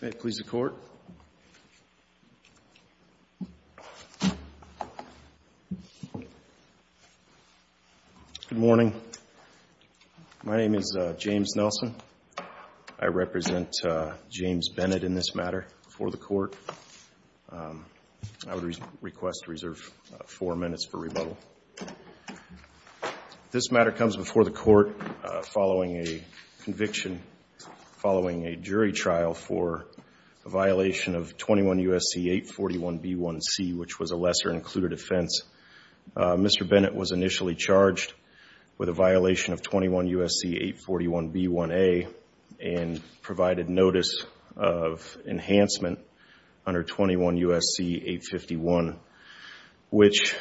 Good morning. My name is James Nelson. I represent James Bennett in this matter before the court. I would request reserve four minutes for rebuttal. This matter comes before the court following a conviction, following a jury trial for a violation of 21 U.S.C. 841B1C, which was a lesser-included offense. Mr. Bennett was initially charged with a violation of 21 U.S.C. 841B1A and provided notice of enhancement under 21 U.S.C. 851, which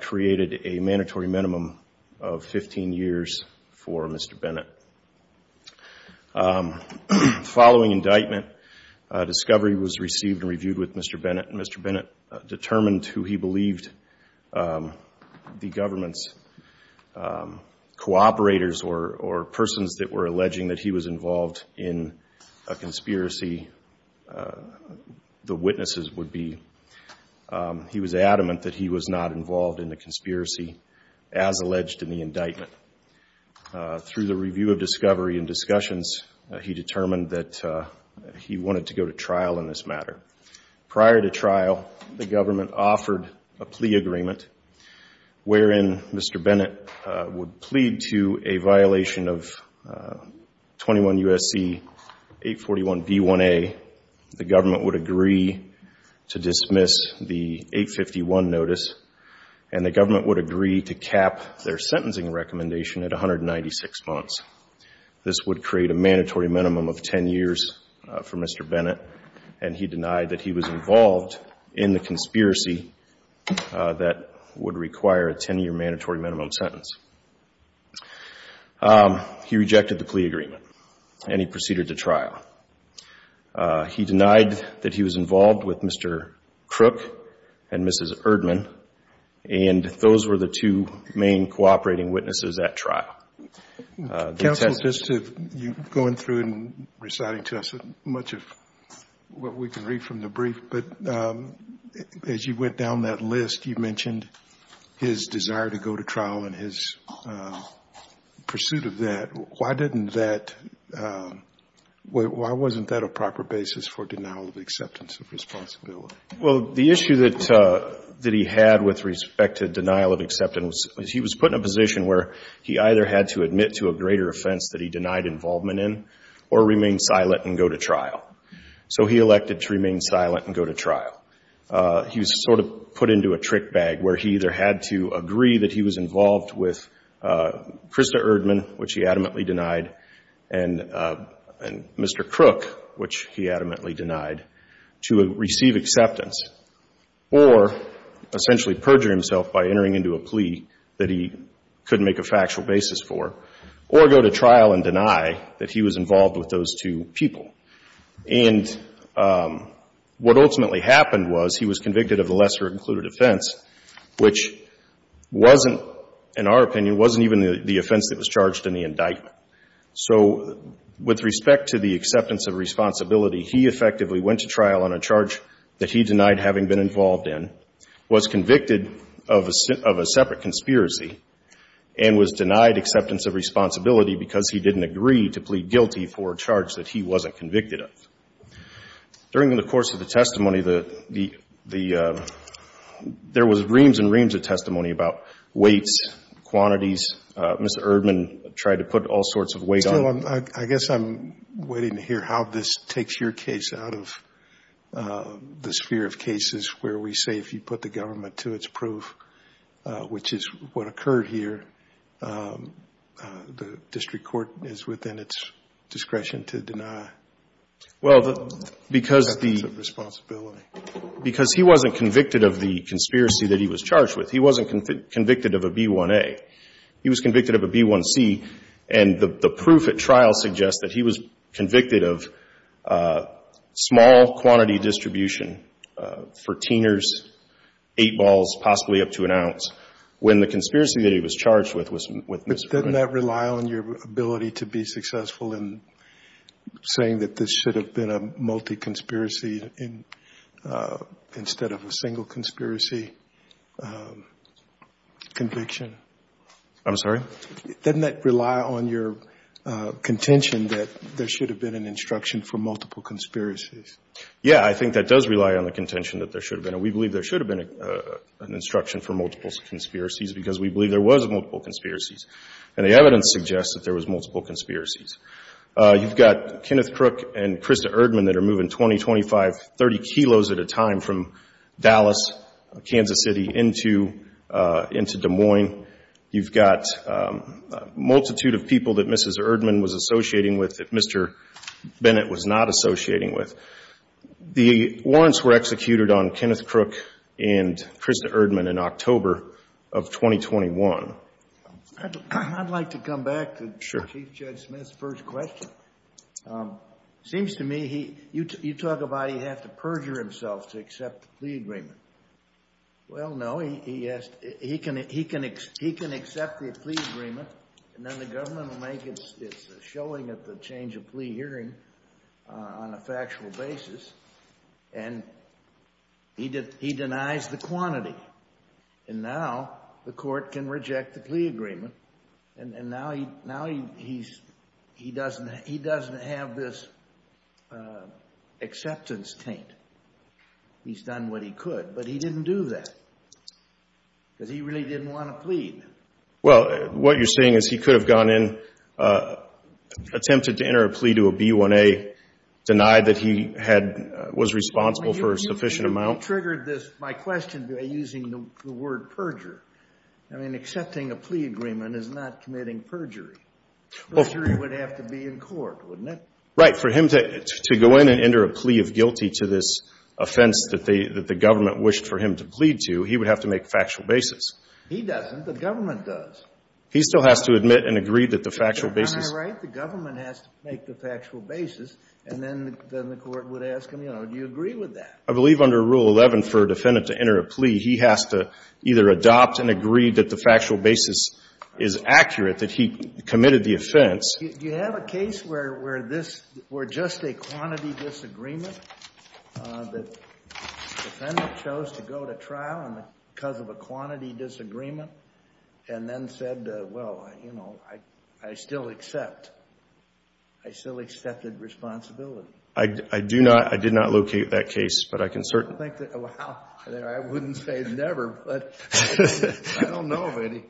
created a mandatory minimum of 15 years for Mr. Bennett. Following indictment, discovery was received and reviewed with Mr. Bennett. Mr. Bennett determined who he believed the government's cooperators or persons that were alleging that he was involved in a conspiracy. The witnesses would be, he was adamant that he was not involved in the conspiracy as alleged in the indictment. Through the review of discovery and discussions, he determined that he wanted to go to trial in this matter. Prior to trial, the government offered a plea agreement wherein Mr. Bennett would plead to a violation of 21 U.S.C. 841B1A. The government would agree to dismiss the 851 notice and the government would agree to cap their sentencing recommendation at 196 months. This would create a mandatory minimum of 10 years for Mr. Bennett and he denied that he was involved in the conspiracy that would require a 10-year mandatory minimum sentence. He rejected the plea agreement and he proceeded to trial. He denied that he was involved with Mr. Crook and Mrs. Erdman and those were the two main cooperating witnesses at trial. Counsel, going through and reciting to us much of what we can read from the brief, but as you went down that list, you mentioned his desire to go to trial and his pursuit of that. Why didn't that, why wasn't that a proper basis for denial of acceptance of responsibility? Well, the issue that he had with respect to denial of acceptance was he was put in a position where he either had to admit to a greater offense that he denied involvement in or remain silent and go to trial. So he elected to remain silent and go to trial. He was sort of put into a trick bag where he either had to agree that he was involved with Krista Erdman, which he adamantly denied, and Mr. Crook, which he adamantly denied, to receive acceptance or essentially perjure himself by entering into a plea that he couldn't make a factual basis for or go to trial and deny that he was involved with those two people. And what ultimately happened was he was convicted of the lesser included offense, which wasn't, in our opinion, wasn't even the offense that was charged in the indictment. So with respect to the acceptance of responsibility, he effectively went to trial on a charge that he denied having been involved in, was convicted of a separate conspiracy, and was denied acceptance of responsibility because he didn't agree to plead guilty for a charge that he wasn't convicted of. During the course of the testimony, there was reams and reams of testimony about weights, quantities. Mr. Erdman tried to put all sorts of weight on it. I guess I'm waiting to hear how this takes your case out of the sphere of cases where we say if you put the government to its proof, which is what occurred here, the district court is within its discretion to deny acceptance of responsibility. Well, because he wasn't convicted of the conspiracy that he was charged with. He wasn't convicted of a B1A. He was convicted of a B1C. And the proof at trial suggests that he was convicted of small quantity distribution, for teeners, eight balls, possibly up to an ounce, when the conspiracy that he was charged with was with Mr. Erdman. Didn't that rely on your ability to be successful in saying that this should have been a multi-conspiracy instead of a single conspiracy conviction? I'm sorry? Didn't that rely on your contention that there should have been an instruction for multiple conspiracies? Yeah, I think that does rely on the contention that there should have been. We believe there should have been an instruction for multiple conspiracies because we believe there was multiple conspiracies. And the evidence suggests that there was multiple conspiracies. You've got Kenneth Crook and Krista Erdman that are moving 20, 25, 30 kilos at a time from Dallas, Kansas City, into Des Moines. You've got a multitude of people that Mrs. Erdman was associating with that Mr. Bennett was not associating with. The warrants were executed on Kenneth Crook and Krista Erdman in October of 2021. I'd like to come back to Chief Judge Smith's question. It seems to me you talk about he'd have to perjure himself to accept the plea agreement. Well, no. He can accept the plea agreement, and then the government will make its showing at the change of plea hearing on a factual basis. And he denies the quantity. And now the court can say he doesn't have this acceptance taint. He's done what he could. But he didn't do that because he really didn't want to plead. Well, what you're saying is he could have gone in, attempted to enter a plea to a B1A, denied that he was responsible for a sufficient amount? You triggered my question by using the word perjure. I mean, accepting a plea agreement is not committing perjury. Perjury would have to be in court, wouldn't it? Right. For him to go in and enter a plea of guilty to this offense that the government wished for him to plead to, he would have to make a factual basis. He doesn't. The government does. He still has to admit and agree that the factual basis. Am I right? The government has to make the factual basis, and then the court would ask him, you know, do you agree with that? I believe under Rule 11, for a defendant to enter a plea, he has to either adopt and agree that the factual basis is accurate, that he committed the offense. Do you have a case where this were just a quantity disagreement? The defendant chose to go to trial because of a quantity disagreement and then said, well, you know, I still accept. I still accepted responsibility. I do not. I did not locate that case, but I can certainly think that. I wouldn't say never, but I don't know of any.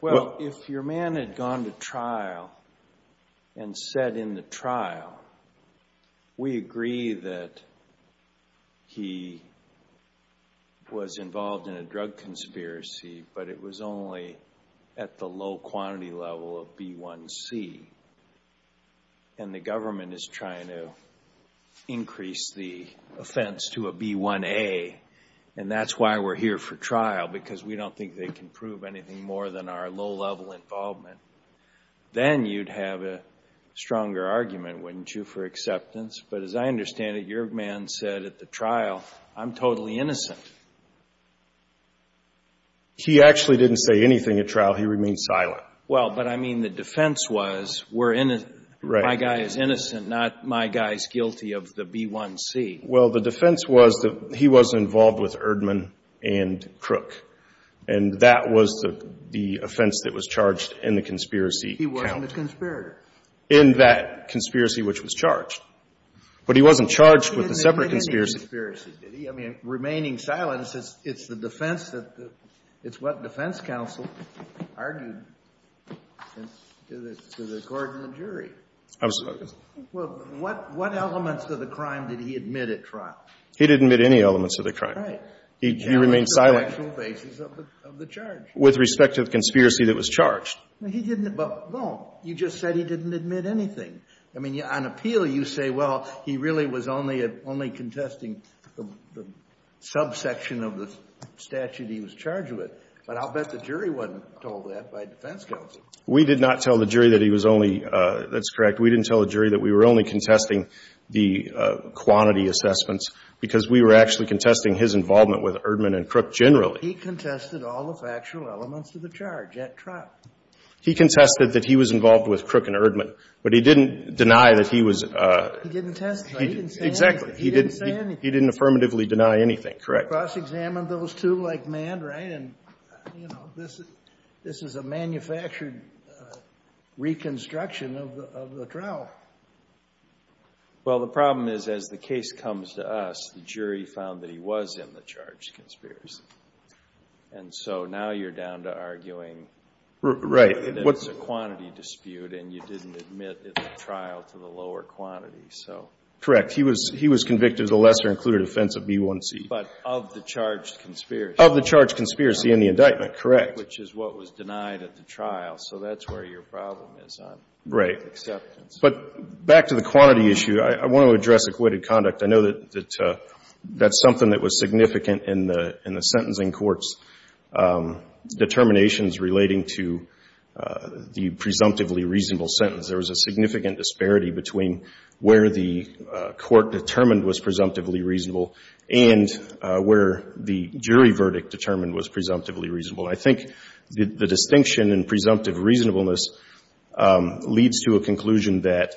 Well, if your man had gone to trial and said in the trial, we agree that he was involved in a drug conspiracy, but it was only at the low quantity level of B1C, and the government is trying to increase the offense to a B1A, and that's why we're here for trial, because we don't think they can prove anything more than our low-level involvement, then you'd have a stronger argument, wouldn't you, for acceptance. But as I understand it, your man said at the trial, I'm totally innocent. He actually didn't say anything at trial. He remained silent. Well, but I mean the defense was, we're innocent, my guy is innocent, not my guy's guilty of the B1C. Well, the defense was that he was involved with Erdman and Crook, and that was the offense that was charged in the conspiracy count. He wasn't a conspirator. In that conspiracy, which was charged. But he wasn't charged with a separate conspiracy. He didn't commit any conspiracy, did he? I mean, remaining silent, it's the defense that, it's what defense counsel argued to the court and the jury. Absolutely. Well, what elements of the crime did he admit at trial? He didn't admit any elements of the crime. Right. He remained silent. The actual basis of the charge. With respect to the conspiracy that was charged. He didn't, but, well, you just said he didn't admit anything. I mean, on appeal, you say, well, he really was only contesting the subsection of the statute he was charged with. But I'll bet the jury wasn't told that by defense counsel. We did not tell the jury that he was only, that's correct. We didn't tell the jury that we were only contesting the quantity assessments because we were actually contesting his involvement with Erdman and Crook generally. He contested all the factual elements of the charge at trial. He contested that he was involved with Crook and Erdman, but he didn't deny that he was. He didn't testify. He didn't say anything. Exactly. He didn't say anything. He didn't affirmatively deny anything. Correct. We cross-examined those two like mad, right? And this is a manufactured reconstruction of the trial. Well, the problem is, as the case comes to us, the jury found that he was in the charge conspiracy. And so now you're down to arguing. Right. It's a quantity dispute and you didn't admit at the trial to the lower quantity. So. Correct. He was convicted of the lesser offense of B1C. But of the charge conspiracy. Of the charge conspiracy and the indictment. Correct. Which is what was denied at the trial. So that's where your problem is on acceptance. Right. But back to the quantity issue, I want to address acquitted conduct. I know that that's something that was significant in the sentencing court's determinations relating to the presumptively reasonable sentence. There was a significant disparity between where the court determined was presumptively reasonable and where the jury verdict determined was presumptively reasonable. I think the distinction in presumptive reasonableness leads to a conclusion that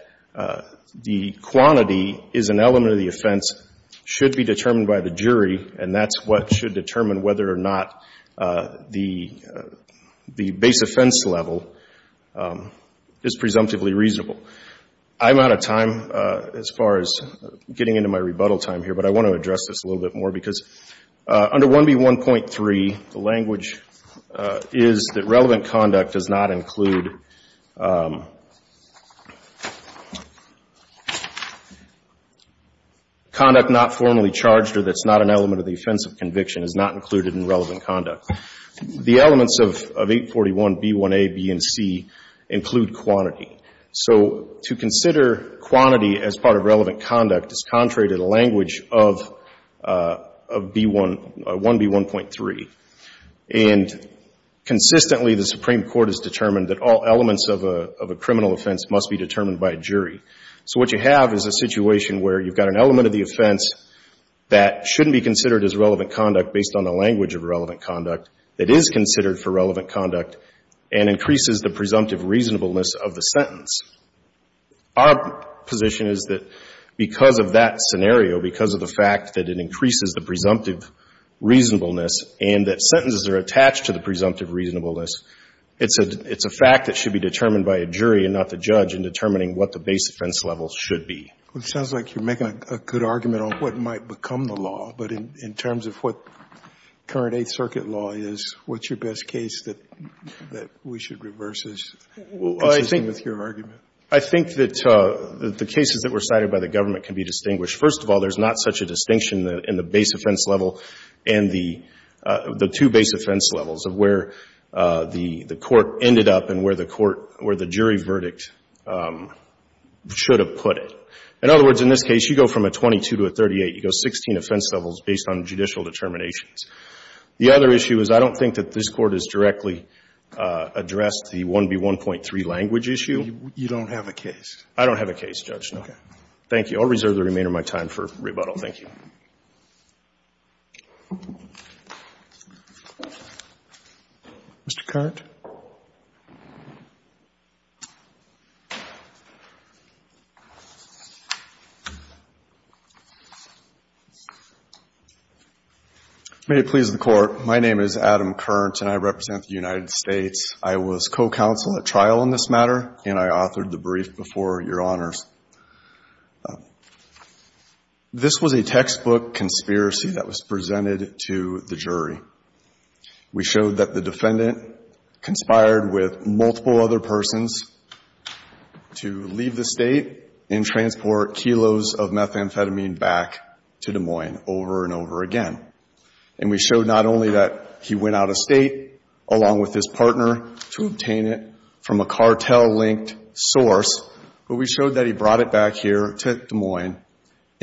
the quantity is an element of the offense, should be determined by the jury, and that's what should determine whether or not the base offense level is presumptively reasonable. I'm out of time as far as getting into my rebuttal time here, but I want to address this a little bit more because under 1B1.3, the language is that relevant conduct does not include conduct not formally charged or that's not an element of the offense of conviction is not included in relevant conduct. The elements of 841B1A, B, and C include quantity. So to consider quantity as part of relevant conduct is contrary to the language of 1B1.3. And consistently, the Supreme Court has determined that all elements of a criminal offense must be determined by a jury. So what you have is a situation where you've got an element of the offense that shouldn't be considered as relevant conduct based on a language of relevant conduct that is considered for relevant conduct and increases the presumptive reasonableness of the sentence. Our position is that because of that scenario, because of the fact that it increases the presumptive reasonableness and that sentences are attached to the presumptive reasonableness, it's a fact that should be determined by a jury and not the judge in determining what the base offense level should be. Well, it sounds like you're making a good argument on what might become the law, but in terms of what current Eighth Circuit law is, what's your best case that we should reverse as consistent with your argument? Well, I think that the cases that were cited by the government can be distinguished. First of all, there's not such a distinction in the base offense level and the two base offense levels of where the court ended up and where the jury verdict should have put it. In other words, in this case, you go from a 22 to a 38. You go 16 offense levels based on judicial determinations. The other issue is I don't think that this Court has directly addressed the 1B1.3 language issue. You don't have a case? I don't have a case, Judge. Okay. Thank you. I'll reserve the remainder of my time for rebuttal. Thank you. Mr. Kearns? May it please the Court, my name is Adam Kearns, and I represent the United States. I was co-counsel at trial on this matter, and I authored the brief before Your Honors. This was a textbook conspiracy that was presented to the jury. We showed that the defendant conspired with multiple other persons to leave the state and transport kilos of methamphetamine back to Des Moines over and over again. And we showed not only that he went out of state along with his partner to obtain it from a cartel-linked source, but we showed that he brought it back here to Des Moines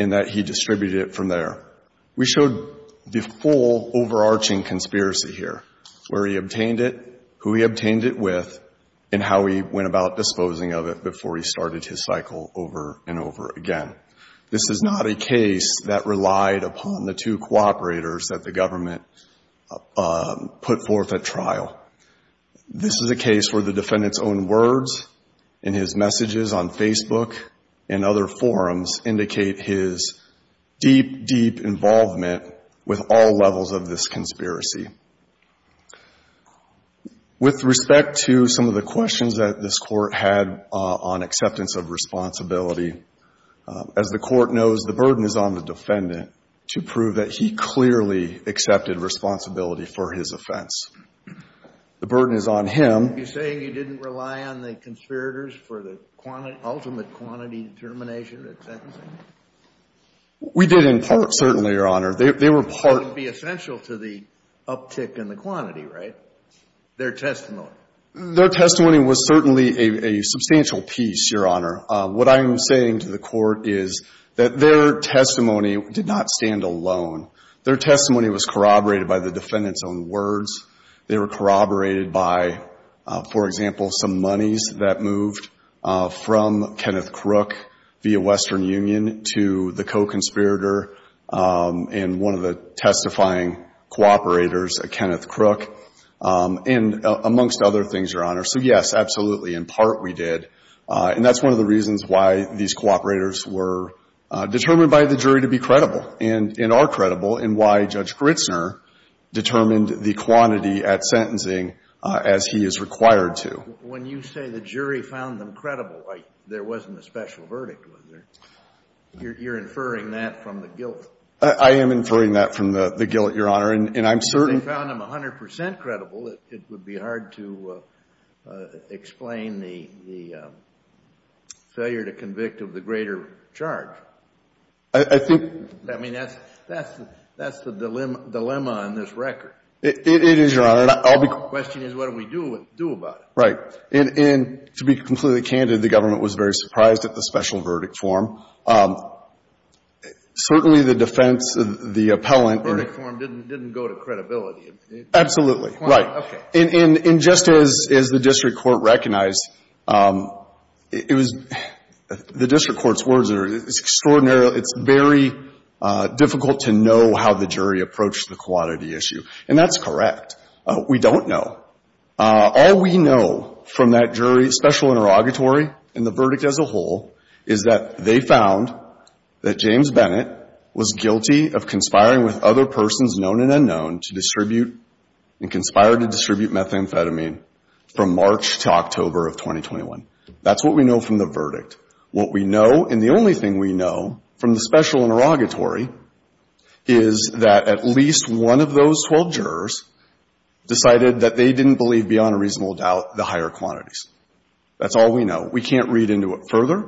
and that he distributed it from there. We showed the full overarching conspiracy here, where he obtained it, who he obtained it with, and how he went about disposing of it before he started his cycle over and over again. This is not a case that relied upon the two cooperators that the government put forth at trial. This is a case where the defendant's own words and his messages on Facebook and other forums indicate his deep, deep involvement with all levels of this conspiracy. With respect to some of the questions that this Court had on acceptance of responsibility, as the Court knows, the burden is on the defendant to prove that he clearly accepted responsibility for his offense. The burden is on him. You're saying you didn't rely on the conspirators for the ultimate quantity determination of the sentencing? We did in part, certainly, Your Honor. They were part. It would be essential to the uptick in the quantity, right? Their testimony. Their testimony was certainly a substantial piece, Your Honor. What I'm saying to the Court is that their testimony did not stand alone. Their testimony was corroborated by the defendant's own words. They were corroborated by, for example, some monies that moved from Kenneth Crook via Western Union to the co-conspirator and one of the testifying cooperators, Kenneth Crook, and amongst other things, Your Honor. So, yes, absolutely, in part we did. And that's one of the reasons why these cooperators were determined by the jury to be at sentencing as he is required to. When you say the jury found them credible, there wasn't a special verdict, was there? You're inferring that from the guilt? I am inferring that from the guilt, Your Honor. And I'm certain they found them 100 percent credible. It would be hard to explain the failure to convict of the greater charge. I think that's the dilemma on this record. It is, Your Honor. The question is what do we do about it? Right. And to be completely candid, the government was very surprised at the special verdict form. Certainly, the defense, the appellant and the court didn't go to credibility. Absolutely. Right. Okay. And just as the district court recognized, it was the district court's words are it's extraordinary. It's very difficult to know how the jury approached the quantity issue. That's correct. We don't know. All we know from that jury special interrogatory and the verdict as a whole is that they found that James Bennett was guilty of conspiring with other persons known and unknown to distribute and conspired to distribute methamphetamine from March to October of 2021. That's what we know from the verdict. What we know and the only thing we know from the special interrogatory is that at least one of those 12 jurors decided that they didn't believe beyond a reasonable doubt the higher quantities. That's all we know. We can't read into it further.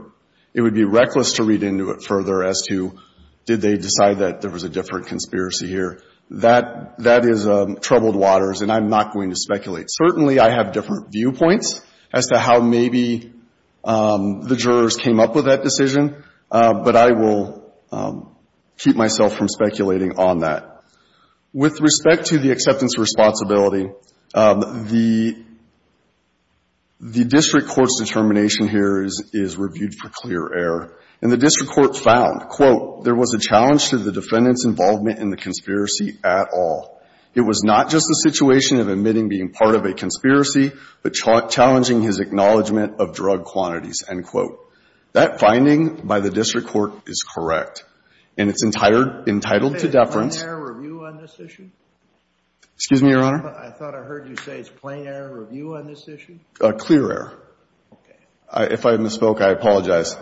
It would be reckless to read into it further as to did they decide that there was a different conspiracy here. That is troubled waters and I'm not going to speculate. Certainly, I have different viewpoints as to how maybe the jurors came up with that decision, but I will keep myself from speculating on that. With respect to the acceptance responsibility, the district court's determination here is reviewed for clear error. And the district court found, quote, there was a challenge to the defendant's involvement in the conspiracy at all. It was not just a situation of admitting being part of a conspiracy, but challenging his acknowledgment of drug quantities, end quote. That finding by the district court is correct and it's entitled to deference. Plain error review on this issue? Excuse me, Your Honor? I thought I heard you say it's plain error review on this issue? Clear error. Okay. If I misspoke, I apologize.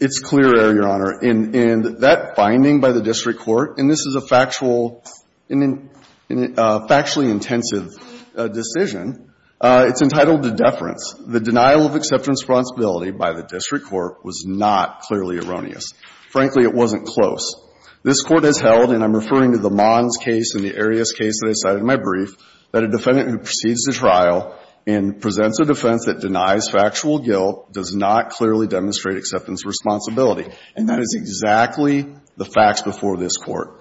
It's clear error, Your Honor. And that finding by the district court, and this is a factual, factually intensive decision, it's entitled to deference. The denial of acceptance responsibility by the district court was not clearly erroneous. Frankly, it wasn't close. This Court has held, and I'm referring to the Mons case and the Arias case that I cited in my brief, that a defendant who proceeds to trial and presents a defense that denies factual guilt does not clearly demonstrate acceptance responsibility. And that is exactly the facts before this Court.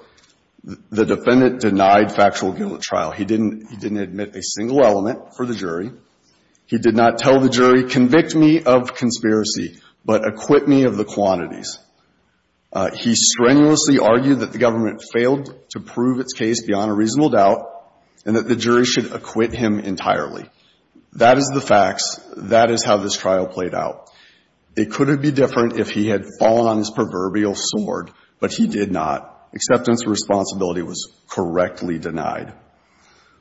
The defendant denied factual guilt at trial. He didn't admit a single element for the jury. He did not tell the jury, convict me of conspiracy, but acquit me of the quantities. He strenuously argued that the government failed to prove its case beyond a reasonable doubt and that the jury should acquit him entirely. That is the facts. That is how this trial played out. It couldn't be different if he had fallen on his proverbial sword, but he did not. Acceptance responsibility was correctly denied.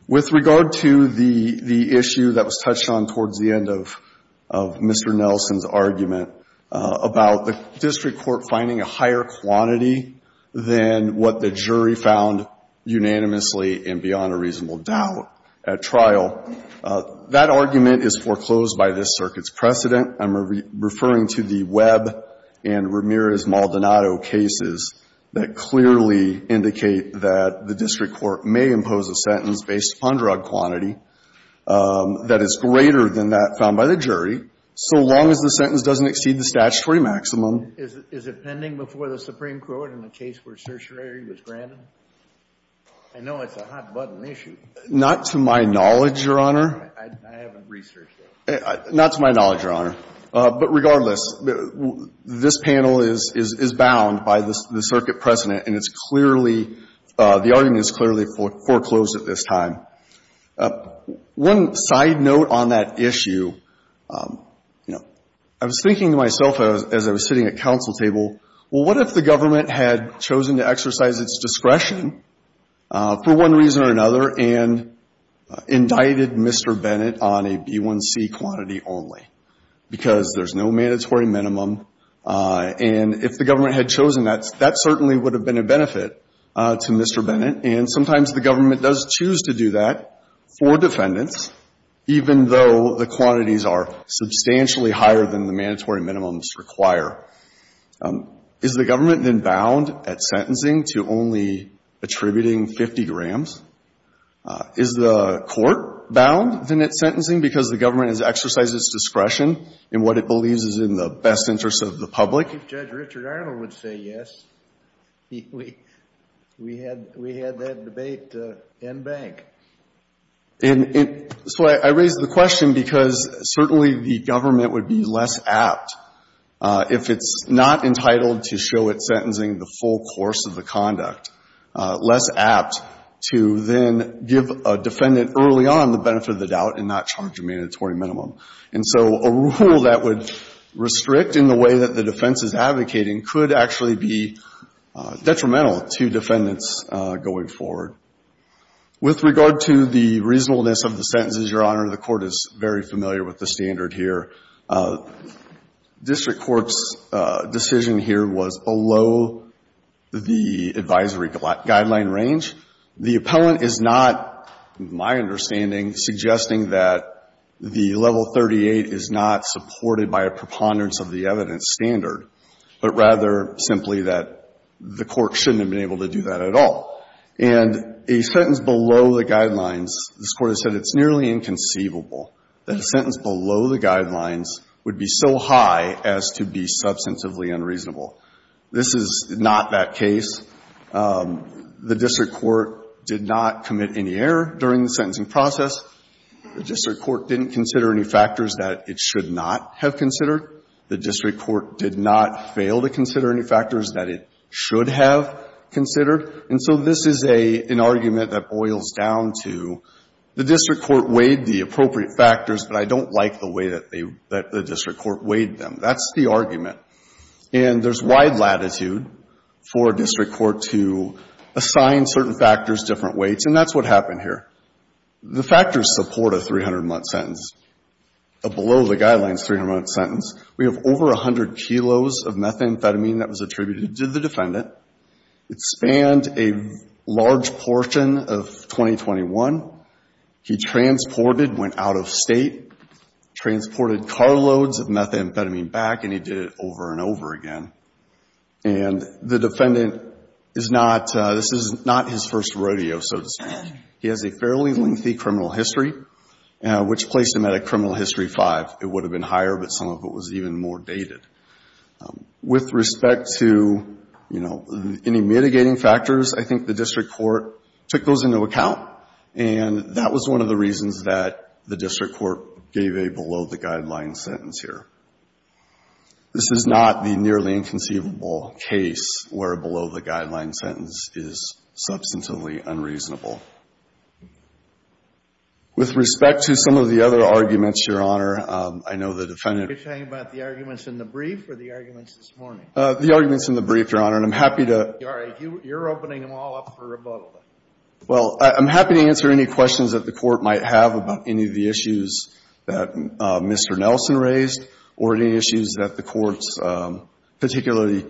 With regard to the issue that was touched on towards the end of Mr. Nelson's argument about the district court finding a higher quantity than what the jury found unanimously and beyond a reasonable doubt at trial, that argument is foreclosed by this Circuit's precedent. I'm referring to the Webb and Ramirez-Maldonado cases that clearly indicate that the district court may impose a sentence based upon drug quantity that is greater than that found by the jury, so long as the sentence doesn't exceed the statutory maximum. Is it pending before the Supreme Court in the case where certiorari was granted? I know it's a hot-button issue. Not to my knowledge, Your Honor. I haven't researched it. Not to my knowledge, Your Honor. But regardless, this panel is bound by the Circuit precedent, and it's clearly the argument is clearly foreclosed at this time. One side note on that issue, you know, I was thinking to myself as I was sitting at counsel table, well, what if the government had chosen to exercise its discretion for one reason or another and indicted Mr. Bennett on a B1C quantity only? Because there's no mandatory minimum, and if the government had chosen that, that certainly would have been a benefit to Mr. Bennett. And sometimes the government does choose to do that for defendants, even though the quantities are substantially higher than the mandatory minimums require. Is the government then bound at sentencing to only attributing 50 grams? Is the court bound then at sentencing because the government has exercised its discretion in what it believes is in the best interest of the public? If Judge Richard Arnold would say yes, we had that debate in bank. And so I raise the question because certainly the government would be less apt if it's not entitled to show at sentencing the full course of the conduct, less apt to then give a defendant early on the benefit of the doubt and not charge a mandatory minimum. And so a rule that would restrict in the way that the defense is advocating could actually be detrimental to defendants going forward. With regard to the reasonableness of the sentences, Your Honor, the Court is very familiar with the standard here. District Court's decision here was below the advisory guideline range. The appellant is not, in my understanding, suggesting that the level 38 is not supported by a preponderance of the evidence standard, but rather simply that the court shouldn't have been able to do that at all. And a sentence below the guidelines, this Court has said it's nearly inconceivable that a sentence below the guidelines would be so high as to be substantively unreasonable. This is not that case. The district court did not commit any error during the sentencing process. The district court didn't consider any factors that it should not have considered. The district court did not fail to consider any factors that it should have considered. And so this is an argument that boils down to the district court weighed the appropriate factors, but I don't like the way that the district court weighed them. That's the argument. And there's wide latitude for a district court to assign certain factors different weights, and that's what happened here. The factors support a 300-month sentence, a below-the-guidelines 300-month sentence. We have over 100 kilos of methamphetamine that was attributed to the defendant. It spanned a large portion of 2021. He transported, went out of State, transported carloads of methamphetamine back, and he did it over and over again. And the defendant is not, this is not his first rodeo, so to speak. He has a fairly lengthy criminal history, which placed him at a criminal history five. It would have been higher, but some of it was even more dated. With respect to, you know, any mitigating factors, I think the district court took those into account, and that was one of the reasons that the district court gave a below-the-guidelines sentence here. This is not the nearly inconceivable case where a below-the-guidelines sentence is substantively unreasonable. With respect to some of the other arguments, Your Honor, I know the defendant You're talking about the arguments in the brief or the arguments this morning? The arguments in the brief, Your Honor. And I'm happy to All right. You're opening them all up for rebuttal. Well, I'm happy to answer any questions that the Court might have about any of the issues that the Court's particularly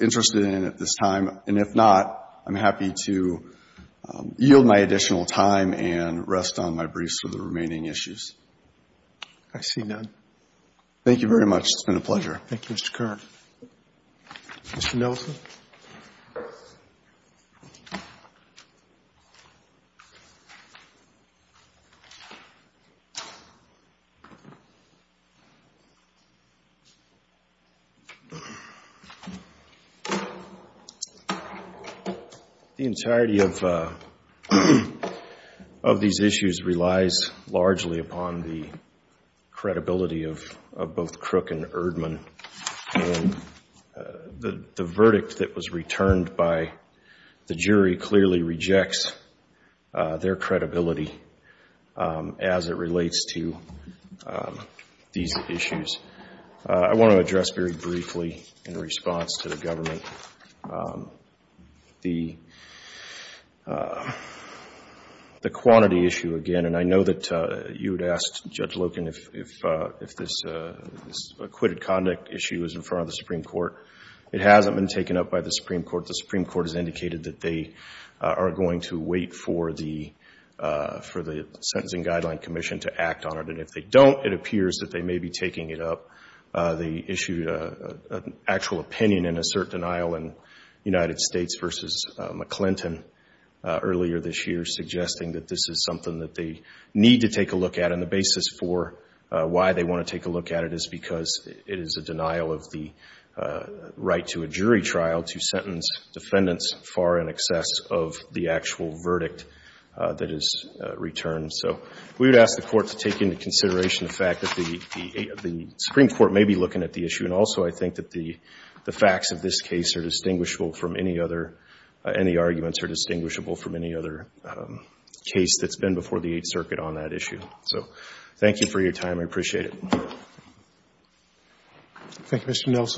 interested in at this time. And if not, I'm happy to yield my additional time and rest on my briefs for the remaining issues. I see none. Thank you very much. It's been a pleasure. Thank you, Mr. Kern. Mr. Nelson? The entirety of these issues relies largely upon the credibility of both Crook and Erdmann. And the verdict that was returned by the jury clearly rejects their credibility as it relates to these issues. I want to address very briefly in response to the Government the quantity issue again. And I know that you had asked Judge Loken if this acquitted conduct issue is in front of the Supreme Court. It hasn't been taken up by the Supreme Court. The Supreme Court has indicated that they are going to wait for the Sentencing Guideline Commission to act on it. If they don't, it appears that they may be taking it up. They issued an actual opinion in a certain aisle in United States versus McClinton earlier this year suggesting that this is something that they need to take a look at. And the basis for why they want to take a look at it is because it is a denial of the right to a jury trial to sentence defendants far in excess of the actual verdict that is returned. So we would ask the Court to take into consideration the fact that the Supreme Court may be looking at the issue. And also, I think that the facts of this case are distinguishable from any other any arguments are distinguishable from any other case that's been before the Eighth Circuit on that issue. So thank you for your time. I appreciate it. Thank you, Mr. Nelson.